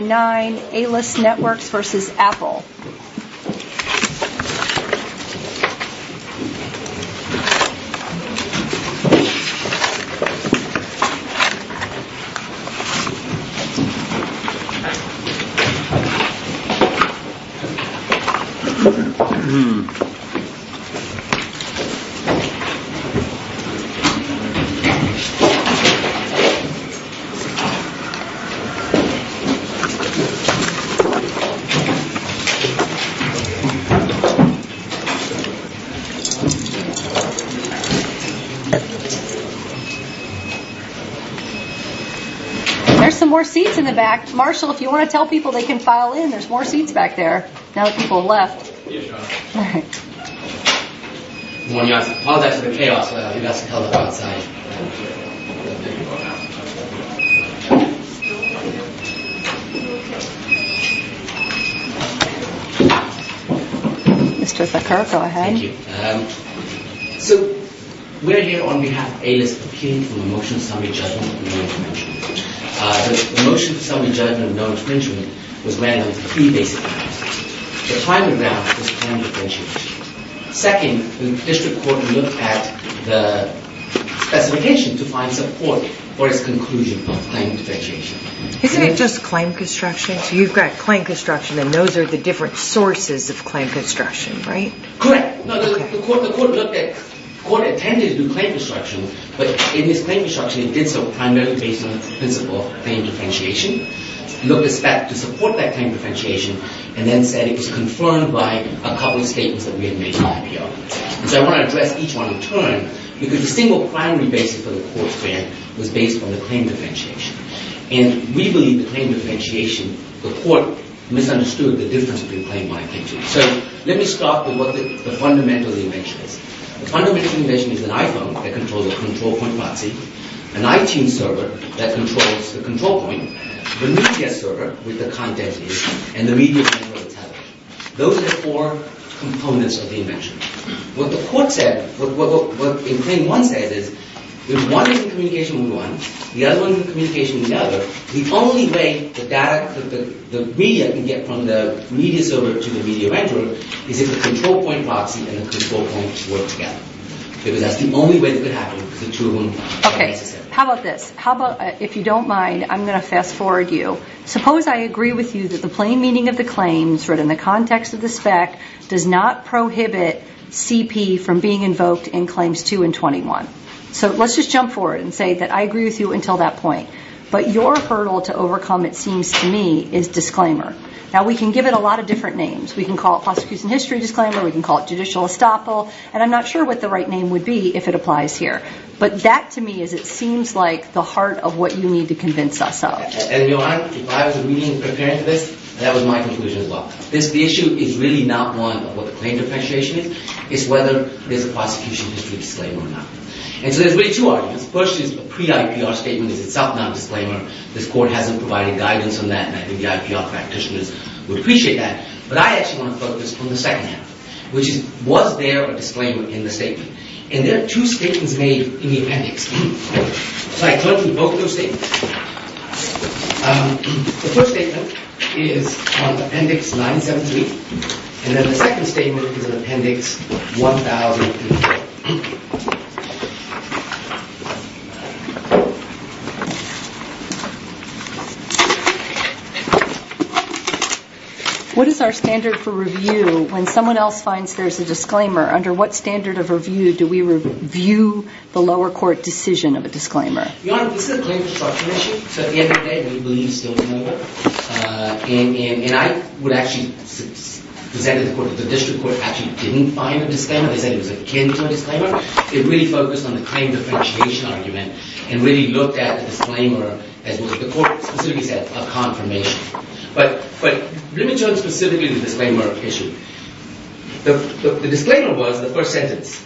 9, A-L-U-S Networks v. Apple. There's some more seats in the back. Marshall, if you want to tell people they can file in, there's more seats back there. Now that people have left. We're here on behalf of A-L-U-S for appealing for the motion of summary judgment of no infringement. The motion of summary judgment of no infringement was ran on three basic grounds. The primary ground was claim differentiation. Second, the district court looked at the specification to find support for its conclusion of claim differentiation. Isn't it just claim construction? So you've got claim construction and those are the different sources of claim construction, right? Correct. The court attended to claim construction, but in this claim construction it did so primarily based on the principle of claim differentiation. It looked to support that claim differentiation and then said it was confirmed by a couple of statements that we had made in IPR. So I want to address each one in turn because the single primary basis for the court's plan was based on the claim differentiation. And we believe the claim differentiation, the court misunderstood the difference between claim and claim differentiation. So let me start with what the fundamental invention is. The fundamental invention is an iPhone that controls a control point proxy, an iTunes server that controls the control point, the media server with the content and the media server with the television. Those are the four components of the invention. What the court said, what claim one says is if one is in communication with one, the other one is in communication with the other, the only way the data, the media can get from the media server to the media vendor is if the control point proxy and the control point work together. Because that's the only way that could happen because the two are one. Okay. How about this? How about, if you don't mind, I'm going to fast forward you. Suppose I agree with you that the plain meaning of the claims written in the context of the spec does not prohibit CP from being invoked in claims 2 and 21. So let's just jump forward and say that I agree with you until that point. But your hurdle to overcome, it seems to me, is disclaimer. Now, we can give it a lot of different names. We can call it prosecution history disclaimer. We can call it judicial estoppel. And I'm not sure what the right name would be if it applies here. But that, to me, is it seems like the heart of what you need to convince us of. And if I was really preparing for this, that was my conclusion as well. The issue is really not one of what the claim differentiation is. It's whether there's a prosecution history disclaimer or not. And so there's really two arguments. First is a pre-IPR statement is itself not a disclaimer. This court hasn't provided guidance on that. And I think the IPR practitioners would appreciate that. But I actually want to focus on the second argument, which is, was there a disclaimer in the statement? And there are two statements made in the appendix. So I turn to both of those statements. The first statement is on Appendix 973. And then the second statement is on Appendix 1003. What is our standard for review when someone else finds there's a disclaimer? Under what standard of review do we review the lower court decision of a disclaimer? Your Honor, this is a claim for prosecution. So at the end of the day, we believe it's still a disclaimer. And I would actually present it to the court. The district court actually didn't find a disclaimer. They said it was akin to a disclaimer. It really focused on the claim differentiation argument and really looked at the disclaimer as what the court specifically said, a confirmation. But let me turn specifically to the disclaimer issue. The disclaimer was the first sentence.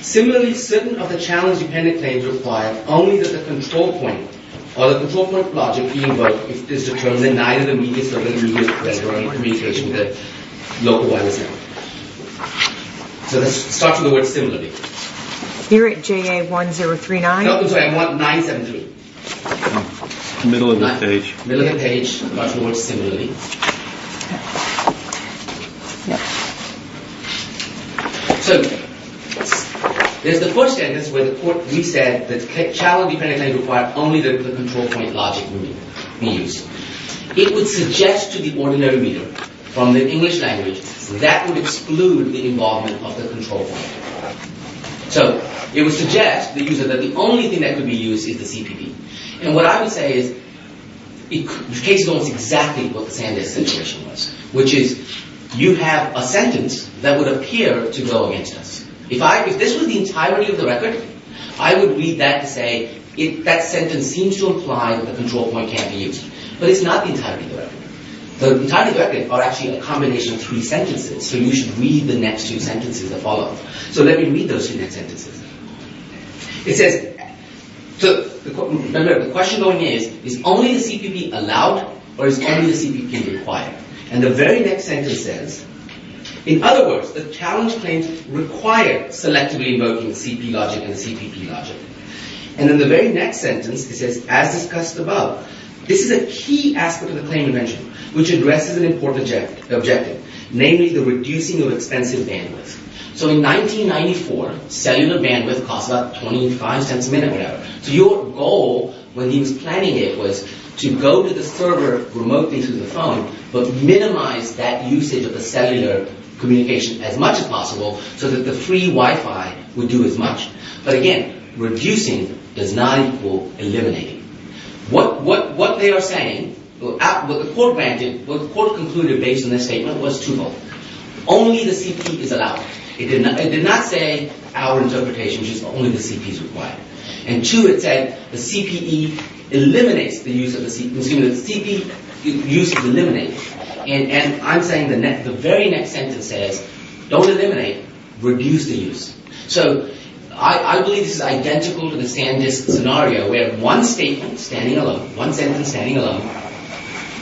Similarly, certain other challenge-dependent claims require only that the control point or the control point logic be invoked if it's determined that neither the medias or the immediate threat or any communication with the local lawyer is valid. So let's start with the word similarly. You're at JA1039? No, I'm sorry, I'm at 973. Middle of the page. Middle of the page. I'm going to start with the word similarly. So there's the first sentence where the court reset that the challenge-dependent claim required only that the control point logic be used. It would suggest to the ordinary reader from the English language that would exclude the involvement of the control point. So it would suggest to the user that the only thing that could be used is the CPD. And what I would say is it takes almost exactly what the Sandesh situation was, which is you have a sentence that would appear to go against us. If this was the entirety of the record, I would read that to say that sentence seems to imply that the control point can't be used. But it's not the entirety of the record. The entirety of the record are actually a combination of three sentences, so you should read the next two sentences that follow. So let me read those two next sentences. It says, remember, the question going in is, is only the CPD allowed or is only the CPD required? And the very next sentence says, In other words, the challenge claims require selectively invoking CP logic and CPP logic. And in the very next sentence, it says, as discussed above, this is a key aspect of the claim invention, which addresses an important objective, namely the reducing of expensive bandwidth. So in 1994, cellular bandwidth cost about 25 cents a minute, whatever. So your goal when he was planning it was to go to the server remotely through the phone, but minimize that usage of the cellular communication as much as possible so that the free Wi-Fi would do as much. But again, reducing does not equal eliminating. What they are saying, what the court concluded based on this statement was twofold. Only the CPD is allowed. It did not say our interpretation, which is only the CPD is required. And two, it said the CPD eliminates the use of the CPU. Excuse me, the CPD uses eliminate. And I'm saying the very next sentence says, don't eliminate, reduce the use. So I believe this is identical to the Sandisk scenario, where one statement, standing alone, one sentence standing alone,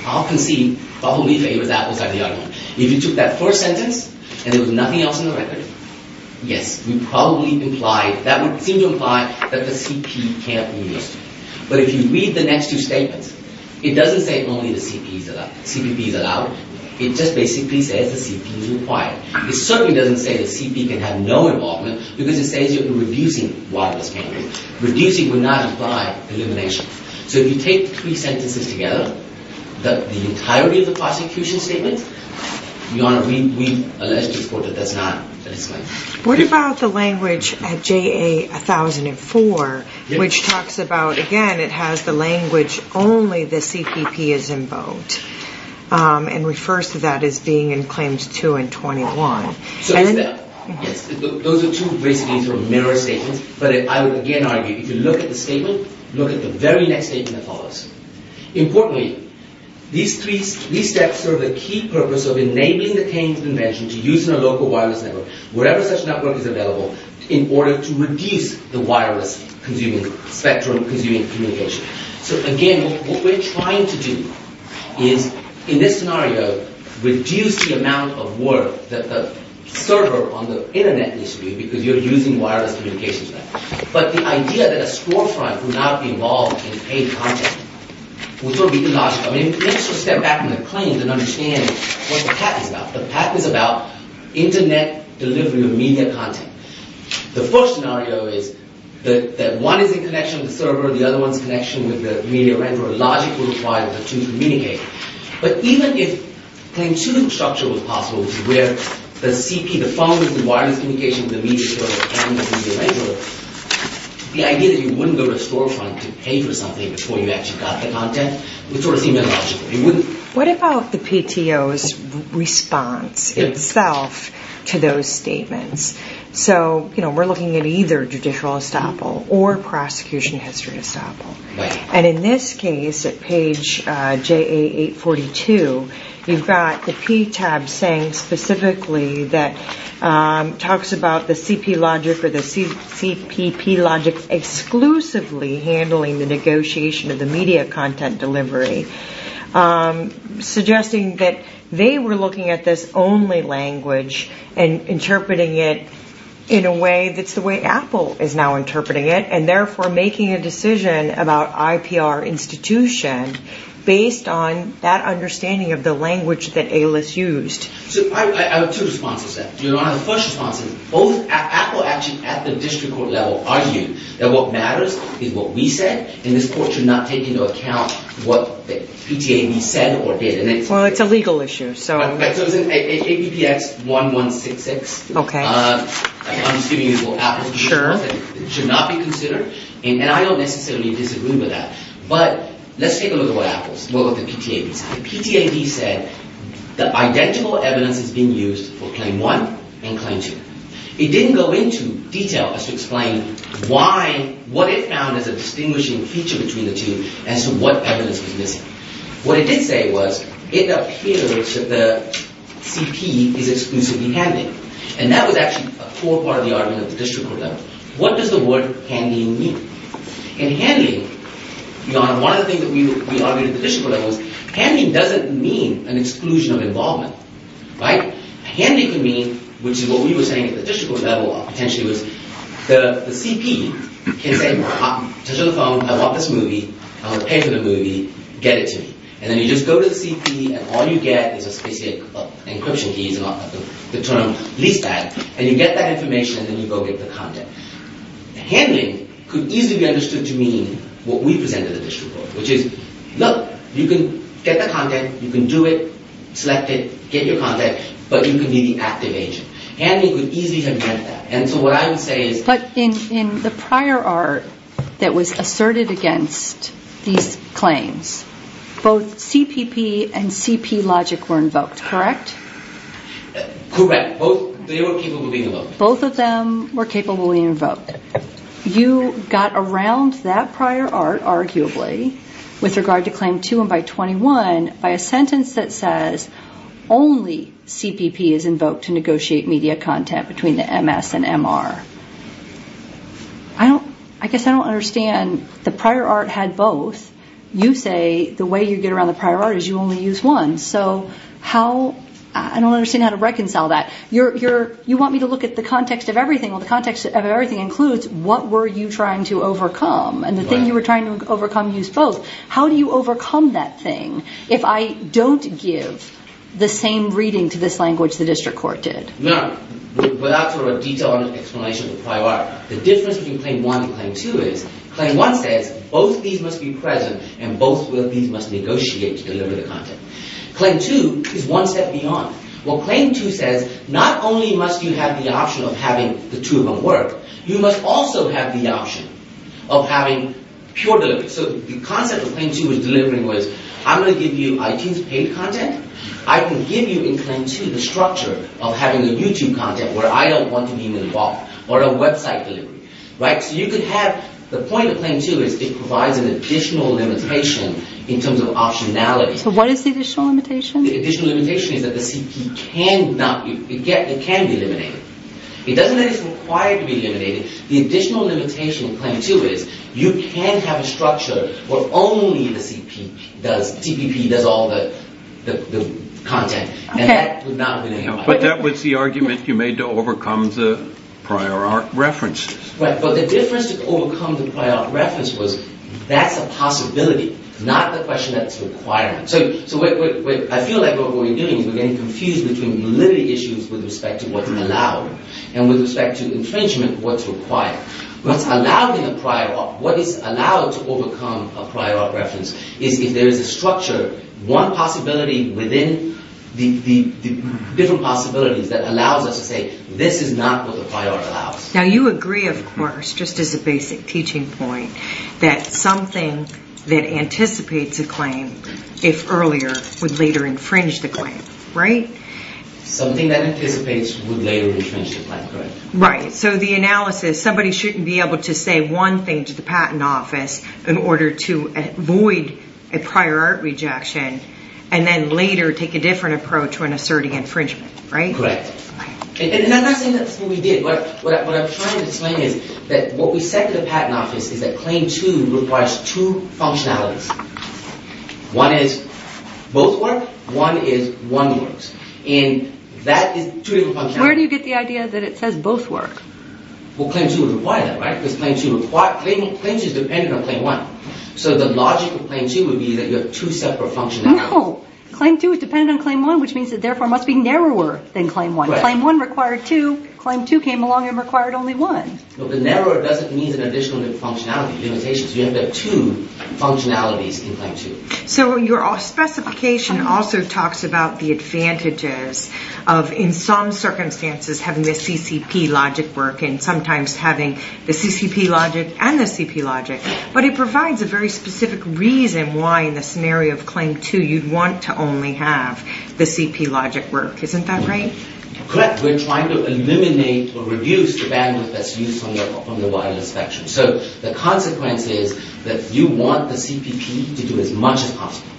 I'll concede probably favors that beside the other one. If you took that first sentence and there was nothing else in the record, yes, that would seem to imply that the CP can't be used. But if you read the next two statements, it doesn't say only the CPD is allowed. It just basically says the CPD is required. It certainly doesn't say the CPD can have no involvement, because it says you're reducing wireless bandwidth. Reducing would not imply elimination. So if you take three sentences together, the entirety of the prosecution statement, we allege this quote that that's not satisfying. What about the language at JA 1004, which talks about, again, it has the language only the CPP is invoked, and refers to that as being in claims two and 21? So it's that. Yes. Those are two basically sort of mirror statements. But I would again argue, if you look at the statement, look at the very next statement that follows. Importantly, these three steps serve a key purpose of enabling the Cain's invention to use in a local wireless network, wherever such network is available, in order to reduce the wireless spectrum consuming communication. So again, what we're trying to do is, in this scenario, reduce the amount of work that the server on the Internet needs to do, because you're using wireless communications there. But the idea that a scorefront would not be involved in paid content would sort of be illogical. I mean, let's just step back from the claims and understand what the patent is about. The patent is about Internet delivery of media content. The first scenario is that one is in connection with the server, the other one is in connection with the media renderer. Logic would require the two to communicate. But even if claim two structure was possible, where the CP, the phone, the wireless communication, the media server, and the media renderer, the idea that you wouldn't go to a storefront to pay for something before you actually got the content would sort of seem illogical. What about the PTO's response itself to those statements? So, you know, we're looking at either judicial estoppel or prosecution history estoppel. And in this case, at page JA842, you've got the PTAB saying specifically that talks about the CP logic or the CPP logic exclusively handling the negotiation of the media content delivery, suggesting that they were looking at this only language and interpreting it in a way that's the way Apple is now interpreting it, and therefore making a decision about IPR institution based on that understanding of the language that A-List used. So I have two responses to that. You know, the first response is both Apple actually at the district court level argued that what matters is what we said, and this court should not take into account what the PTAB said or did. Well, it's a legal issue, so... Okay, so it's in APPX 1166. Okay. I'm just giving you what Apple said. Sure. It should not be considered, and I don't necessarily disagree with that. But let's take a look at what Apple's, what the PTAB said. The PTAB said that identical evidence is being used for claim one and claim two. It didn't go into detail as to explain why, what it found as a distinguishing feature between the two as to what evidence was missing. What it did say was it appears that the CP is exclusively handling, and that was actually a core part of the argument at the district court level. What does the word handling mean? In handling, one of the things that we argued at the district court level was handling doesn't mean an exclusion of involvement, right? Handling can mean, which is what we were saying at the district court level, potentially was the CP can say, I bought this movie. I'm going to pay for the movie. Get it to me. And then you just go to the CP, and all you get is a specific encryption key, the term lease bag, and you get that information, and then you go get the content. Handling could easily be understood to mean what we presented at the district court, which is, look, you can get the content, you can do it, select it, get your content, but you can be the active agent. Handling could easily have meant that, and so what I would say is but in the prior art that was asserted against these claims, both CPP and CP logic were invoked, correct? Correct. They were capably invoked. Both of them were capably invoked. You got around that prior art, arguably, with regard to Claim 2 and by 21, by a sentence that says only CPP is invoked to negotiate media content between the MS and MR. I guess I don't understand. The prior art had both. You say the way you get around the prior art is you only use one, so I don't understand how to reconcile that. You want me to look at the context of everything. Well, the context of everything includes what were you trying to overcome, and the thing you were trying to overcome used both. How do you overcome that thing if I don't give the same reading to this language the district court did? No. Without further detail on the explanation of the prior art, the difference between Claim 1 and Claim 2 is Claim 1 says both of these must be present and both of these must negotiate to deliver the content. Claim 2 is one step beyond. Well, Claim 2 says not only must you have the option of having the two of them work, you must also have the option of having pure delivery. So the concept of Claim 2 was delivering was I'm going to give you iTunes paid content. I can give you in Claim 2 the structure of having a YouTube content where I don't want to be involved or a website delivery. So you could have the point of Claim 2 is it provides an additional limitation in terms of optionality. So what is the additional limitation? The additional limitation is that the CP can be eliminated. It doesn't mean it's required to be eliminated. The additional limitation of Claim 2 is you can have a structure where only the CPP does all the content. But that was the argument you made to overcome the prior art references. Right. But the difference to overcome the prior art reference was that's a possibility, not the question that's required. So I feel like what we're doing is we're getting confused between validity issues with respect to what's allowed and with respect to infringement, what's required. What is allowed to overcome a prior art reference is if there is a structure, one possibility within the different possibilities that allows us to say this is not what the prior art allows. Now you agree, of course, just as a basic teaching point, that something that anticipates a claim, if earlier, would later infringe the claim, right? Something that anticipates would later infringe the claim, correct? Right. So the analysis, somebody shouldn't be able to say one thing to the patent office in order to avoid a prior art rejection and then later take a different approach when asserting infringement, right? Correct. And I'm not saying that's what we did. What I'm trying to explain is that what we said to the patent office is that Claim 2 requires two functionalities. One is both work. One is one works. And that is two different functionalities. Where do you get the idea that it says both work? Well, Claim 2 would require that, right? Because Claim 2 is dependent on Claim 1. So the logic of Claim 2 would be that you have two separate functionalities. No. Claim 2 is dependent on Claim 1, which means it therefore must be narrower than Claim 1. Right. Claim 1 required two. Claim 2 came along and required only one. No, but narrower doesn't mean an additional functionality, limitations. You have to have two functionalities in Claim 2. So your specification also talks about the advantages of in some circumstances having the CCP logic work and sometimes having the CCP logic and the CP logic. But it provides a very specific reason why in the scenario of Claim 2 you'd want to only have the CP logic work. Isn't that right? Correct. We're trying to eliminate or reduce the bandwidth that's used from the wireless spectrum. So the consequence is that you want the CPP to do as much as possible.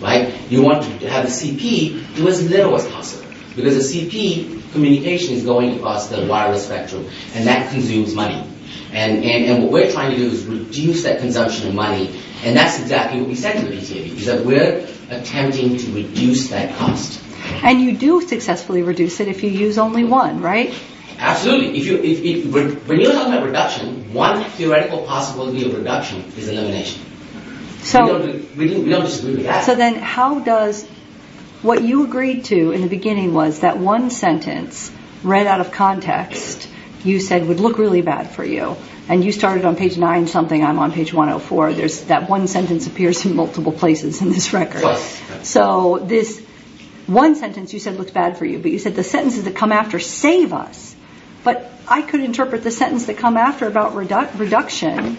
Right? You want to have the CP do as little as possible. Because the CP communication is going across the wireless spectrum. And that consumes money. And what we're trying to do is reduce that consumption of money. And that's exactly what we said to the PTA. We're attempting to reduce that cost. And you do successfully reduce it if you use only one, right? Absolutely. When you have a reduction, one theoretical possibility of reduction is elimination. We don't disagree with that. So then how does what you agreed to in the beginning was that one sentence read out of context you said would look really bad for you. And you started on page 9 something, I'm on page 104. That one sentence appears in multiple places in this record. Correct. So this one sentence you said looks bad for you. But you said the sentences that come after save us. But I could interpret the sentence that come after about reduction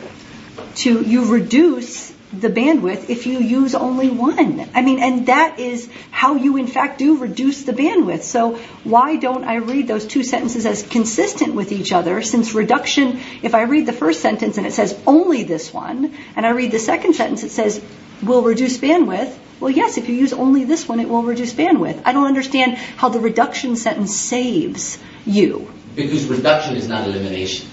to you reduce the bandwidth if you use only one. I mean, and that is how you in fact do reduce the bandwidth. So why don't I read those two sentences as consistent with each other since reduction, if I read the first sentence and it says only this one, and I read the second sentence it says we'll reduce bandwidth, well, yes, if you use only this one it will reduce bandwidth. I don't understand how the reduction sentence saves you. Because reduction is not elimination.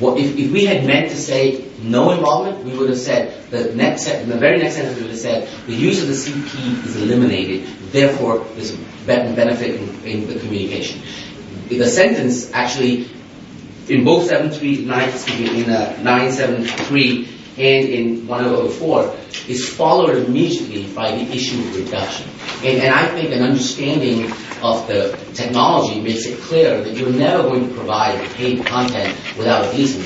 If we had meant to say no involvement, we would have said, in the very next sentence we would have said the use of the CP is eliminated, therefore there's benefit in the communication. The sentence actually in both 973 and in 104 is followed immediately by the issue of reduction. And I think an understanding of the technology makes it clear that you're never going to provide paid content without a reason.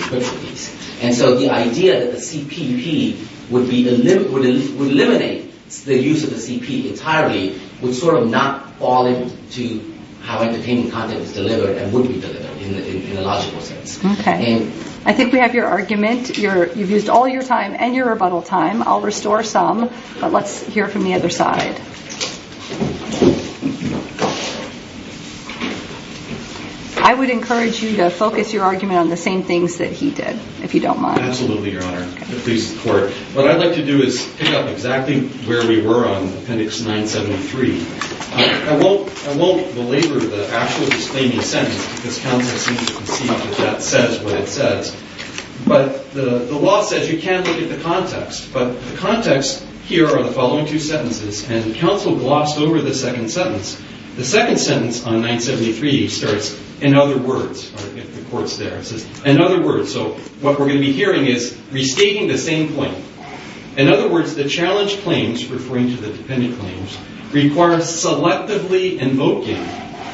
And so the idea that the CPP would eliminate the use of the CP entirely would sort of not fall into how entertaining content is delivered and would be delivered in a logical sense. Okay. I think we have your argument. You've used all your time and your rebuttal time. I'll restore some, but let's hear from the other side. I would encourage you to focus your argument on the same things that he did, if you don't mind. Absolutely, Your Honor. What I'd like to do is pick up exactly where we were on Appendix 973. I won't belabor the actual disclaiming sentence, because counsel seems to concede that that says what it says. But the law says you can't look at the context. But the context here are the following two sentences. And counsel glossed over the second sentence. The second sentence on 973 starts, in other words, so what we're going to be hearing is restating the same claim. In other words, the challenge claims, referring to the dependent claims, require selectively invoking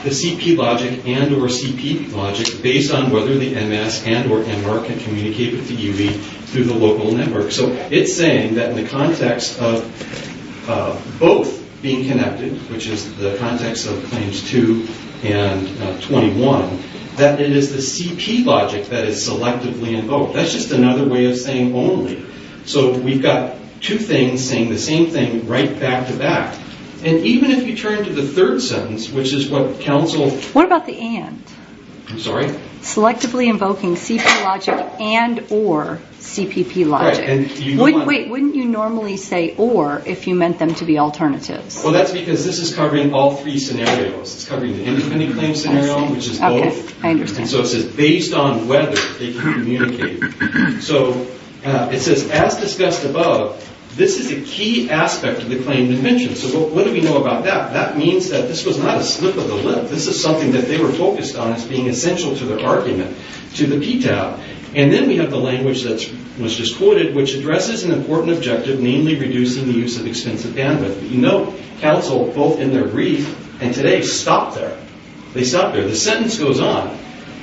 the CP logic and or CP logic based on whether the MS and or MR can communicate with the UV through the local network. So it's saying that in the context of both being connected, which is the context of Claims 2 and 21, that it is the CP logic that is selectively invoked. That's just another way of saying only. So we've got two things saying the same thing right back to back. And even if you turn to the third sentence, which is what counsel... What about the and? I'm sorry? Selectively invoking CP logic and or CPP logic. Wait, wouldn't you normally say or if you meant them to be alternatives? Well, that's because this is covering all three scenarios. It's covering the independent claim scenario, which is both. Okay, I understand. And so it says, based on whether they can communicate. So it says, as discussed above, this is a key aspect of the claim dimension. So what do we know about that? That means that this was not a slip of the lip. This is something that they were focused on as being essential to their argument to the PTAB. And then we have the language that was just quoted, which addresses an important objective, namely reducing the use of expensive bandwidth. You know, counsel, both in their brief and today, stopped there. They stopped there. The sentence goes on.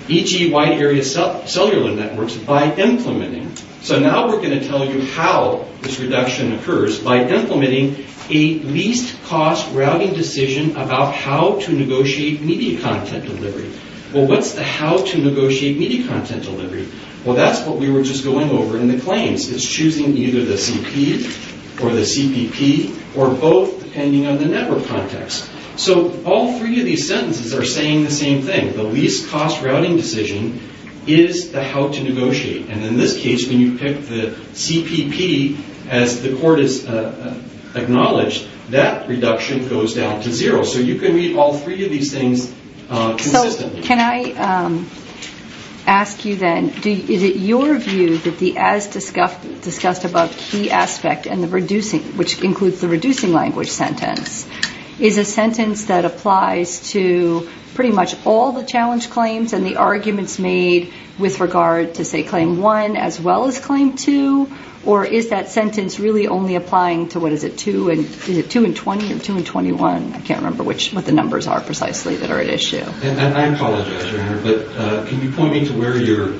E.g., wide area cellular networks by implementing. So now we're going to tell you how this reduction occurs by implementing a least cost routing decision about how to negotiate media content delivery. Well, what's the how to negotiate media content delivery? Well, that's what we were just going over in the claims. It's choosing either the CP or the CPP or both, depending on the network context. So all three of these sentences are saying the same thing. The least cost routing decision is the how to negotiate. And in this case, when you pick the CPP, as the court has acknowledged, that reduction goes down to zero. So you can read all three of these things consistently. So can I ask you then, is it your view that the as discussed above key aspect, which includes the reducing language sentence, is a sentence that applies to pretty much all the challenge claims and the arguments made with regard to, say, claim 1 as well as claim 2? Or is that sentence really only applying to, what is it, 2 and 20 or 2 and 21? I can't remember what the numbers are precisely that are at issue. I apologize, Your Honor, but can you point me to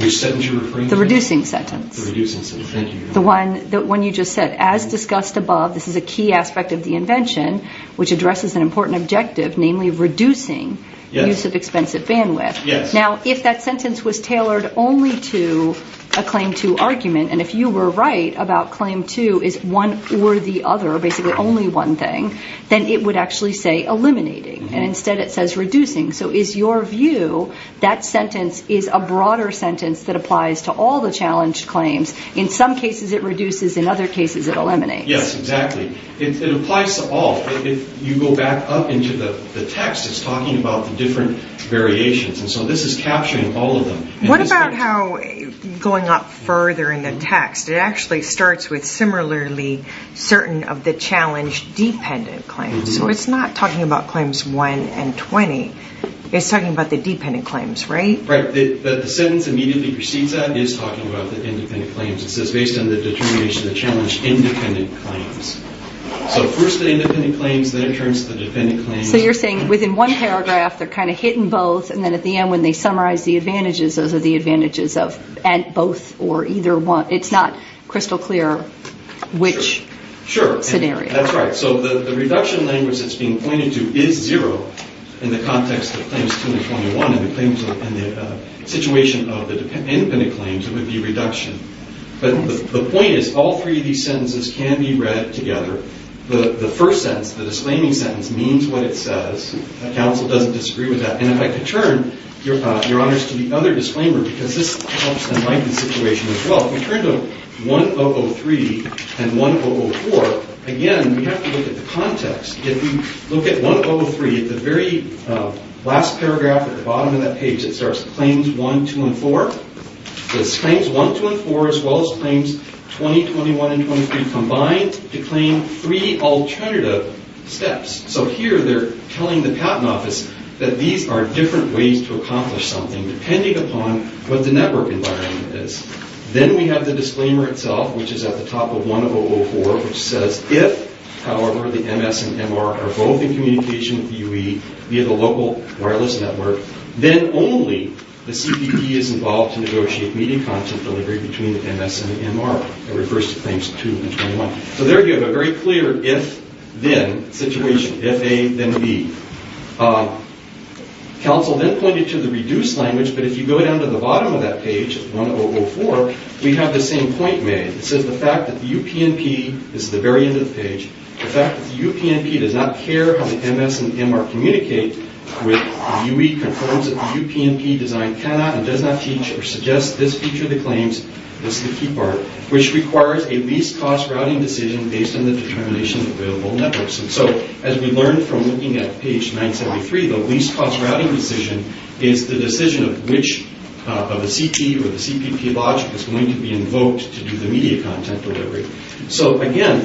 which sentence you're referring to? The reducing sentence. The reducing sentence. Thank you, Your Honor. The one you just said, as discussed above, this is a key aspect of the invention, which addresses an important objective, namely reducing the use of expensive bandwidth. Yes. Now, if that sentence was tailored only to a claim 2 argument, and if you were right about claim 2 is one or the other, basically only one thing, then it would actually say eliminating. And instead it says reducing. So is your view that sentence is a broader sentence that applies to all the challenge claims? In some cases it reduces, in other cases it eliminates. Yes, exactly. It applies to all. If you go back up into the text, it's talking about the different variations. And so this is capturing all of them. What about how, going up further in the text, it actually starts with similarly certain of the challenge-dependent claims. So it's not talking about claims 1 and 20. It's talking about the dependent claims, right? Right. The sentence immediately precedes that is talking about the independent claims. It says based on the determination of the challenge-independent claims. So first the independent claims, then it turns to the dependent claims. So you're saying within one paragraph they're kind of hitting both, and then at the end when they summarize the advantages, those are the advantages of both or either one. It's not crystal clear which scenario. Sure, that's right. So the reduction language that's being pointed to is zero in the context of claims 2 and 21. In the situation of the independent claims, it would be reduction. But the point is all three of these sentences can be read together. The first sentence, the disclaiming sentence, means what it says. The counsel doesn't disagree with that. And if I could turn, Your Honors, to the other disclaimer, because this helps enlighten the situation as well. If we turn to 1.003 and 1.004, again, we have to look at the context. If we look at 1.003, at the very last paragraph at the bottom of that page, it starts claims 1, 2, and 4. It's claims 1, 2, and 4 as well as claims 20, 21, and 23 combined to claim three alternative steps. So here they're telling the Patent Office that these are different ways to accomplish something depending upon what the network environment is. Then we have the disclaimer itself, which is at the top of 1.004, which says if, however, the MS and MR are both in communication with UE via the local wireless network, then only the CPP is involved to negotiate meeting content delivery between the MS and the MR. It refers to claims 2 and 21. So there you have a very clear if-then situation, if A, then B. Council then pointed to the reduced language, but if you go down to the bottom of that page, 1.004, we have the same point made. It says the fact that the UPnP, this is the very end of the page, the fact that the UPnP does not care how the MS and MR communicate with UE confirms that the UPnP design cannot and does not teach or suggest this feature of the claims, this is the key part, which requires a least-cost routing decision based on the determination of available networks. And so as we learned from looking at page 973, the least-cost routing decision is the decision of which of a CP or the CPP logic is going to be invoked to do the media content delivery. So, again,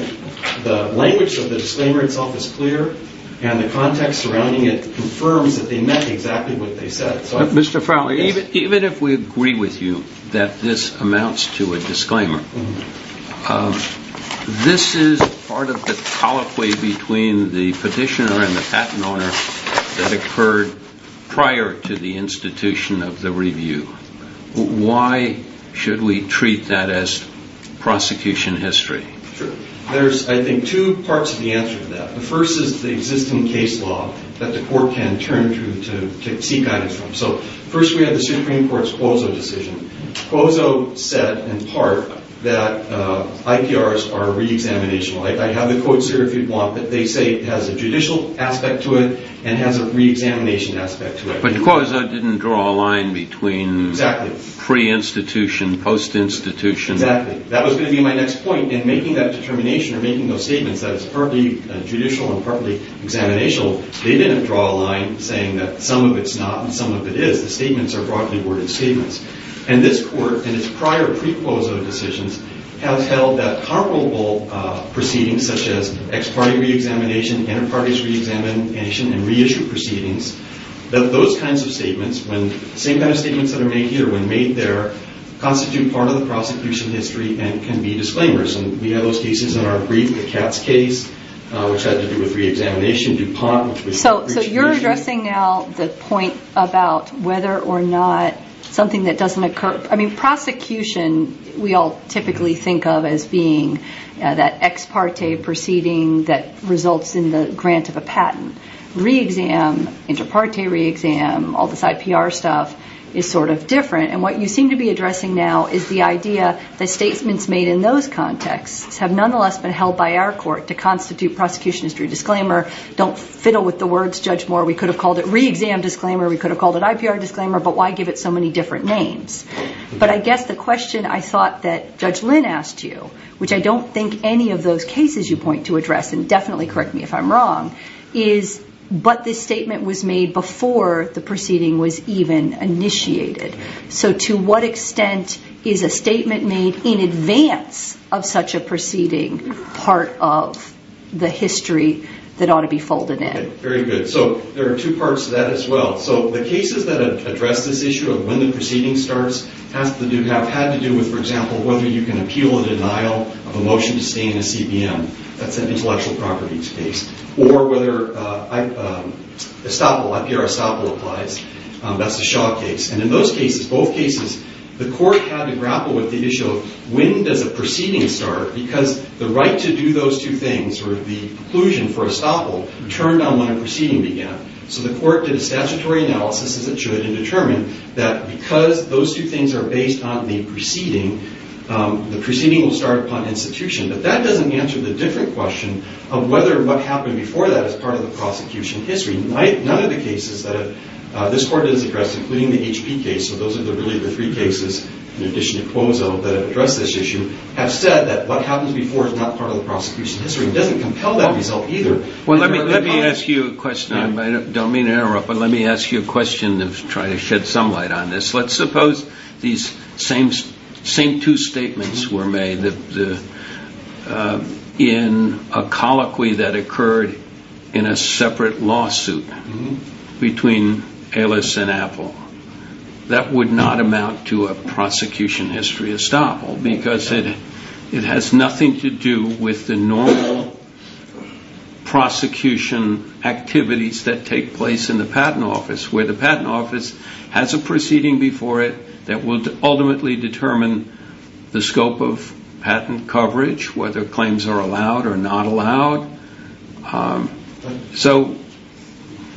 the language of the disclaimer itself is clear, and the context surrounding it confirms that they meant exactly what they said. Even if we agree with you that this amounts to a disclaimer, this is part of the colloquy between the petitioner and the patent owner that occurred prior to the institution of the review. Why should we treat that as prosecution history? There's, I think, two parts of the answer to that. The first is the existing case law that the court can turn to seek guidance from. So, first we have the Supreme Court's Quozo decision. Quozo said, in part, that IPRs are re-examinational. I have the quotes here if you want, but they say it has a judicial aspect to it and has a re-examination aspect to it. But Quozo didn't draw a line between pre-institution, post-institution. Exactly. That was going to be my next point in making that determination or making those statements that it's partly judicial and partly examinational. They didn't draw a line saying that some of it's not and some of it is. The statements are broadly worded statements. And this court, in its prior pre-Quozo decisions, has held that comparable proceedings such as ex-party re-examination, inter-parties re-examination, and re-issue proceedings, that those kinds of statements, when the same kind of statements that are made here, when made there, constitute part of the prosecution history and can be disclaimers. And we have those cases in our brief, the Katz case, which had to do with re-examination. So you're addressing now the point about whether or not something that doesn't occur. I mean, prosecution we all typically think of as being that ex-party proceeding that results in the grant of a patent. Re-exam, inter-party re-exam, all this IPR stuff is sort of different. And what you seem to be addressing now is the idea that statements made in those contexts have nonetheless been held by our court to constitute prosecution history disclaimer. Don't fiddle with the words Judge Moore. We could have called it re-exam disclaimer. We could have called it IPR disclaimer. But why give it so many different names? But I guess the question I thought that Judge Lynn asked you, which I don't think any of those cases you point to address, and definitely correct me if I'm wrong, but this statement was made before the proceeding was even initiated. So to what extent is a statement made in advance of such a proceeding part of the history that ought to be folded in? Very good. So there are two parts to that as well. So the cases that address this issue of when the proceeding starts have had to do with, for example, whether you can appeal a denial of a motion to stay in a CBM. That's an intellectual properties case. Or whether estoppel, IPR estoppel applies. That's the Shaw case. And in those cases, both cases, the court had to grapple with the issue of when does a proceeding start? Because the right to do those two things, or the inclusion for estoppel, turned on when a proceeding began. So the court did a statutory analysis, as it should, and determined that because those two things are based on the proceeding, the proceeding will start upon institution. But that doesn't answer the different question of whether what happened before that is part of the prosecution history. None of the cases that this court has addressed, including the HP case, so those are really the three cases in addition to Cuozo that have addressed this issue, have said that what happens before is not part of the prosecution history. It doesn't compel that result either. Well, let me ask you a question. I don't mean to interrupt, but let me ask you a question and try to shed some light on this. Let's suppose these same two statements were made in a colloquy that occurred in a separate lawsuit between Alice and Apple. That would not amount to a prosecution history estoppel because it has nothing to do with the normal prosecution activities that take place in the patent office, where the patent office has a proceeding before it that will ultimately determine the scope of patent coverage, whether claims are allowed or not allowed. So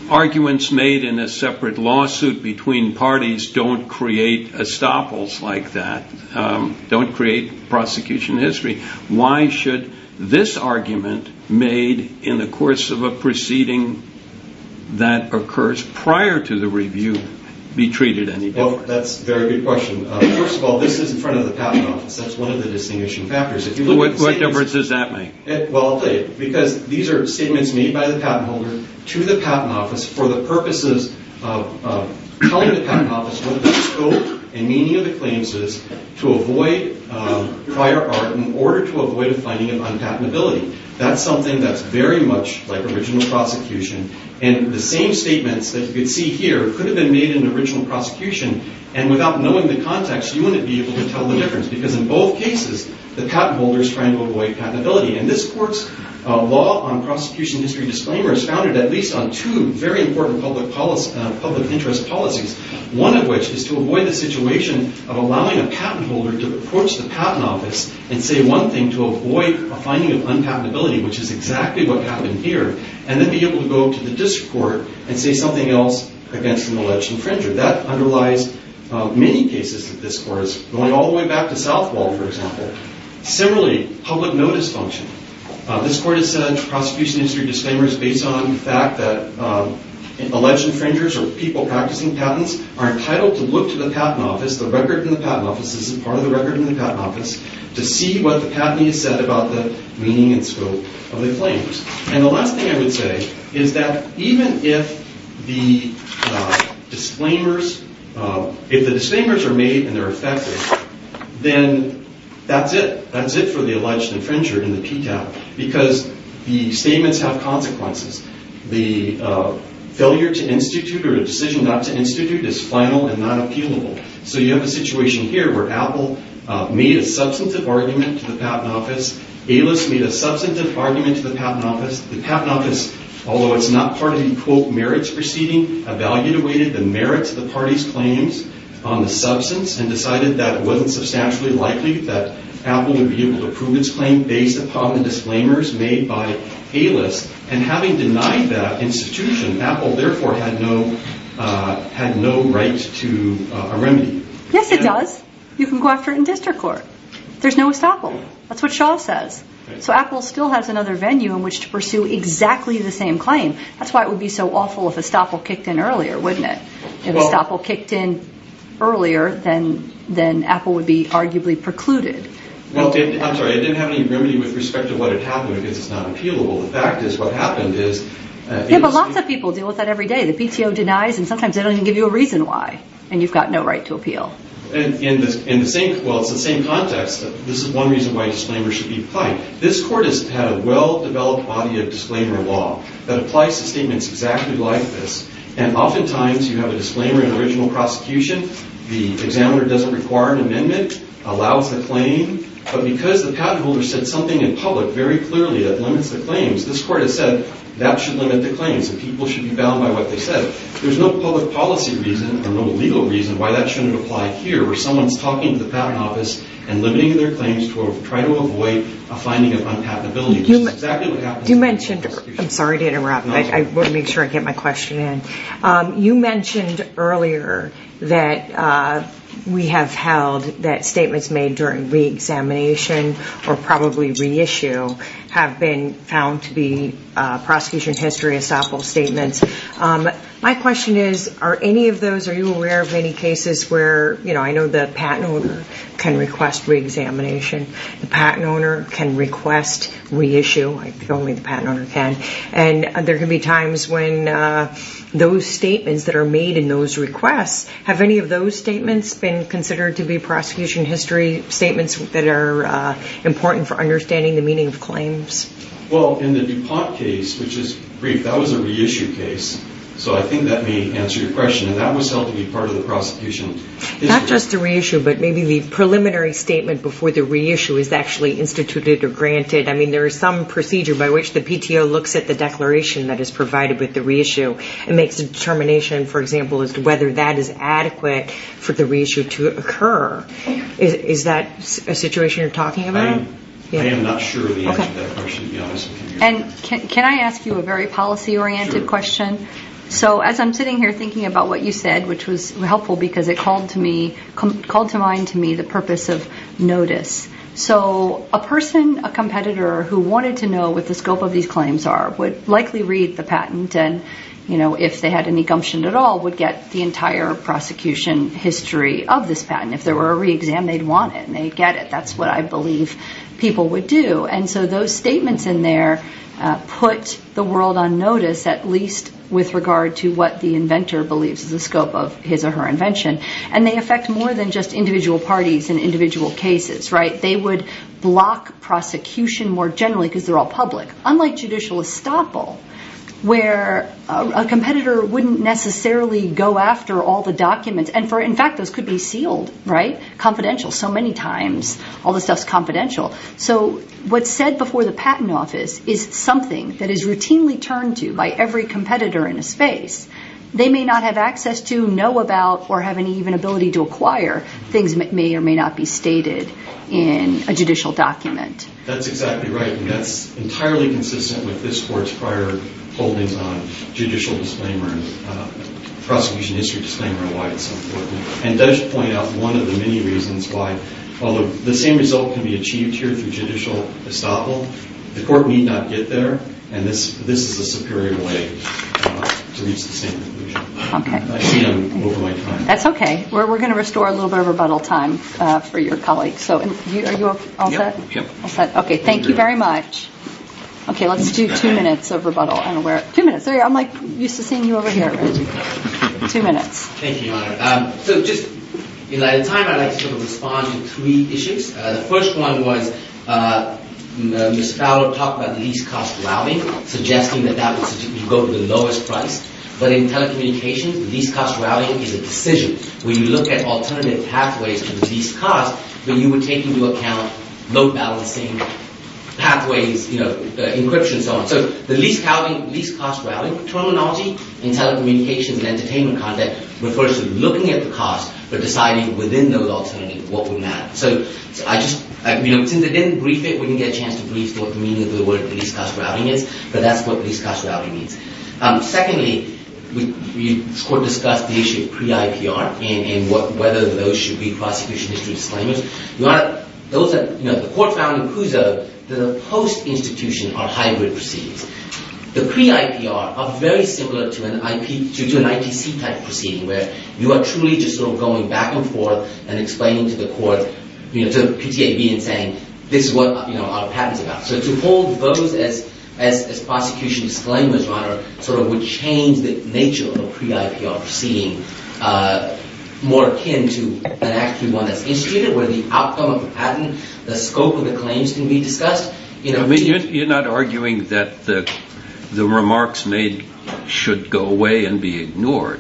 arguments made in a separate lawsuit between parties don't create estoppels like that, don't create prosecution history. Why should this argument made in the course of a proceeding that occurs prior to the review be treated any differently? That's a very good question. First of all, this is in front of the patent office. That's one of the distinguishing factors. What difference does that make? Well, I'll tell you. Because these are statements made by the patent holder to the patent office for the purposes of telling the patent office what the scope and meaning of the claims is to avoid prior art in order to avoid a finding of unpatentability. That's something that's very much like original prosecution. And the same statements that you can see here could have been made in the original prosecution. And without knowing the context, you wouldn't be able to tell the difference because in both cases, the patent holder is trying to avoid patentability. And this court's law on prosecution history disclaimers is founded at least on two very important public interest policies, one of which is to avoid the situation of allowing a patent holder to approach the patent office and say one thing to avoid a finding of unpatentability, which is exactly what happened here, and then be able to go to the district court and say something else against an alleged infringer. That underlies many cases that this court is going all the way back to Southwall, for example. Similarly, public notice function. This court has said prosecution history disclaimers based on the fact that are entitled to look to the patent office, the record in the patent office, this is part of the record in the patent office, to see what the patentee has said about the meaning and scope of the claims. And the last thing I would say is that even if the disclaimers are made and they're effective, then that's it. That's it for the alleged infringer in the PTAP because the statements have consequences. The failure to institute or the decision not to institute is final and not appealable. So you have a situation here where Apple made a substantive argument to the patent office. A-List made a substantive argument to the patent office. The patent office, although it's not part of the, quote, merits proceeding, evaluated the merits of the party's claims on the substance and decided that it wasn't substantially likely that Apple would be able to prove its claim based upon the disclaimers made by A-List. And having denied that institution, Apple therefore had no right to a remedy. Yes, it does. You can go after it in district court. There's no estoppel. That's what Shaw says. So Apple still has another venue in which to pursue exactly the same claim. That's why it would be so awful if estoppel kicked in earlier, wouldn't it? If estoppel kicked in earlier, then Apple would be arguably precluded. I'm sorry, I didn't have any remedy with respect to what had happened because it's not appealable. The fact is what happened is- Yeah, but lots of people deal with that every day. The PTO denies, and sometimes they don't even give you a reason why, and you've got no right to appeal. Well, it's the same context. This is one reason why disclaimers should be applied. This court has had a well-developed body of disclaimer law that applies to statements exactly like this. And oftentimes you have a disclaimer in original prosecution. The examiner doesn't require an amendment, allows the claim. But because the patent holder said something in public very clearly that limits the claims, this court has said that should limit the claims, and people should be bound by what they said. There's no public policy reason or no legal reason why that shouldn't apply here where someone's talking to the patent office and limiting their claims to try to avoid a finding of unpatentability. This is exactly what happened- You mentioned- I'm sorry to interrupt, but I want to make sure I get my question in. You mentioned earlier that we have held that statements made during reexamination or probably reissue have been found to be prosecution history estoppel statements. My question is, are any of those- are you aware of any cases where- I know the patent owner can request reexamination. The patent owner can request reissue. I think only the patent owner can. And there can be times when those statements that are made in those requests- have any of those statements been considered to be prosecution history statements that are important for understanding the meaning of claims? Well, in the DuPont case, which is brief, that was a reissue case. So I think that may answer your question. And that was held to be part of the prosecution history. Not just the reissue, but maybe the preliminary statement before the reissue is actually instituted or granted. I mean, there is some procedure by which the PTO looks at the declaration that is provided with the reissue and makes a determination, for example, as to whether that is adequate for the reissue to occur. Is that a situation you're talking about? I am not sure the answer to that question, to be honest with you. Can I ask you a very policy-oriented question? So as I'm sitting here thinking about what you said, which was helpful because it called to mind to me the purpose of notice. So a person, a competitor, who wanted to know what the scope of these claims are would likely read the patent and, you know, if they had any gumption at all, would get the entire prosecution history of this patent. If there were a re-exam, they'd want it and they'd get it. That's what I believe people would do. And so those statements in there put the world on notice, at least with regard to what the inventor believes is the scope of his or her invention. And they affect more than just individual parties and individual cases, right? They would block prosecution more generally because they're all public. Unlike judicial estoppel, where a competitor wouldn't necessarily go after all the documents and, in fact, those could be sealed, right? Confidential, so many times all the stuff's confidential. So what's said before the patent office is something that is routinely turned to by every competitor in a space. They may not have access to, know about, or have any even ability to acquire things that may or may not be stated in a judicial document. That's exactly right, and that's entirely consistent with this court's prior holdings on judicial disclaimer and prosecution history disclaimer and why it's so important. And it does point out one of the many reasons why, although the same result can be achieved here through judicial estoppel, the court may not get there, and this is a superior way to reach the same conclusion. I see I'm over my time. That's okay. We're going to restore a little bit of rebuttal time for your colleagues. Are you all set? Yep. All set. Okay, thank you very much. Okay, let's do two minutes of rebuttal. Two minutes. There you are. I'm used to seeing you over here. Two minutes. Thank you, Your Honor. At the time, I'd like to respond to three issues. The first one was Ms. Fowler talked about the least-cost routing, suggesting that that would go to the lowest price. But in telecommunications, the least-cost routing is a decision. When you look at alternative pathways to the least cost, then you would take into account load balancing, pathways, encryption, and so on. So the least-cost routing terminology in telecommunications and entertainment content refers to looking at the cost but deciding within those alternatives what would matter. Since I didn't brief it, we didn't get a chance to brief what the meaning of the word least-cost routing is, but that's what least-cost routing means. Secondly, we discussed the issue of pre-IPR and whether those should be prosecution history disclaimers. The court found in CUSA that a post-institution are hybrid proceedings. The pre-IPR are very similar to an ITC-type proceeding where you are truly just sort of going back and forth and explaining to the court, to PTAB in saying, this is what our patent is about. So to hold those as prosecution disclaimers, Your Honor, sort of would change the nature of a pre-IPR proceeding more akin to an actual one that's instituted where the outcome of the patent, the scope of the claims can be discussed. You're not arguing that the remarks made should go away and be ignored.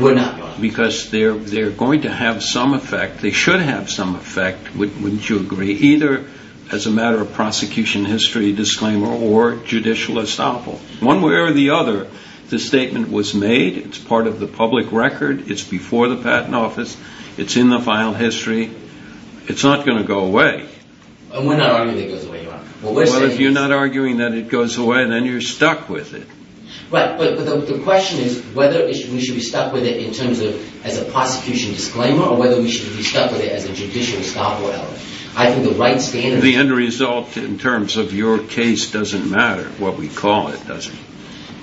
We're not. Because they're going to have some effect. They should have some effect, wouldn't you agree, either as a matter of prosecution history disclaimer or judicial estoppel. One way or the other, the statement was made. It's part of the public record. It's before the patent office. It's in the file history. It's not going to go away. And we're not arguing that it goes away, Your Honor. Well, if you're not arguing that it goes away, then you're stuck with it. Right, but the question is whether we should be stuck with it in terms of as a prosecution disclaimer or whether we should be stuck with it as a judicial estoppel. I think the right standard... The end result in terms of your case doesn't matter. What we call it doesn't.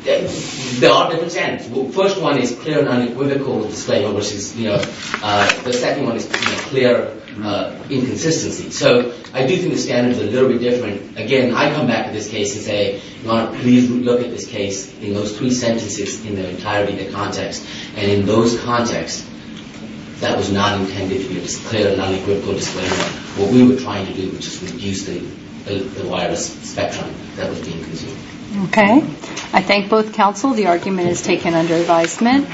There are different standards. The first one is clear and unequivocal disclaimer versus, you know, the second one is clear inconsistency. So I do think the standards are a little bit different. Again, I come back to this case and say, Your Honor, please look at this case in those three sentences in their entirety, the context, and in those contexts, that was not intended to be a clear and unequivocal disclaimer. What we were trying to do was just reduce the virus spectrum that was being consumed. Okay. I thank both counsel. The argument is taken under advisement.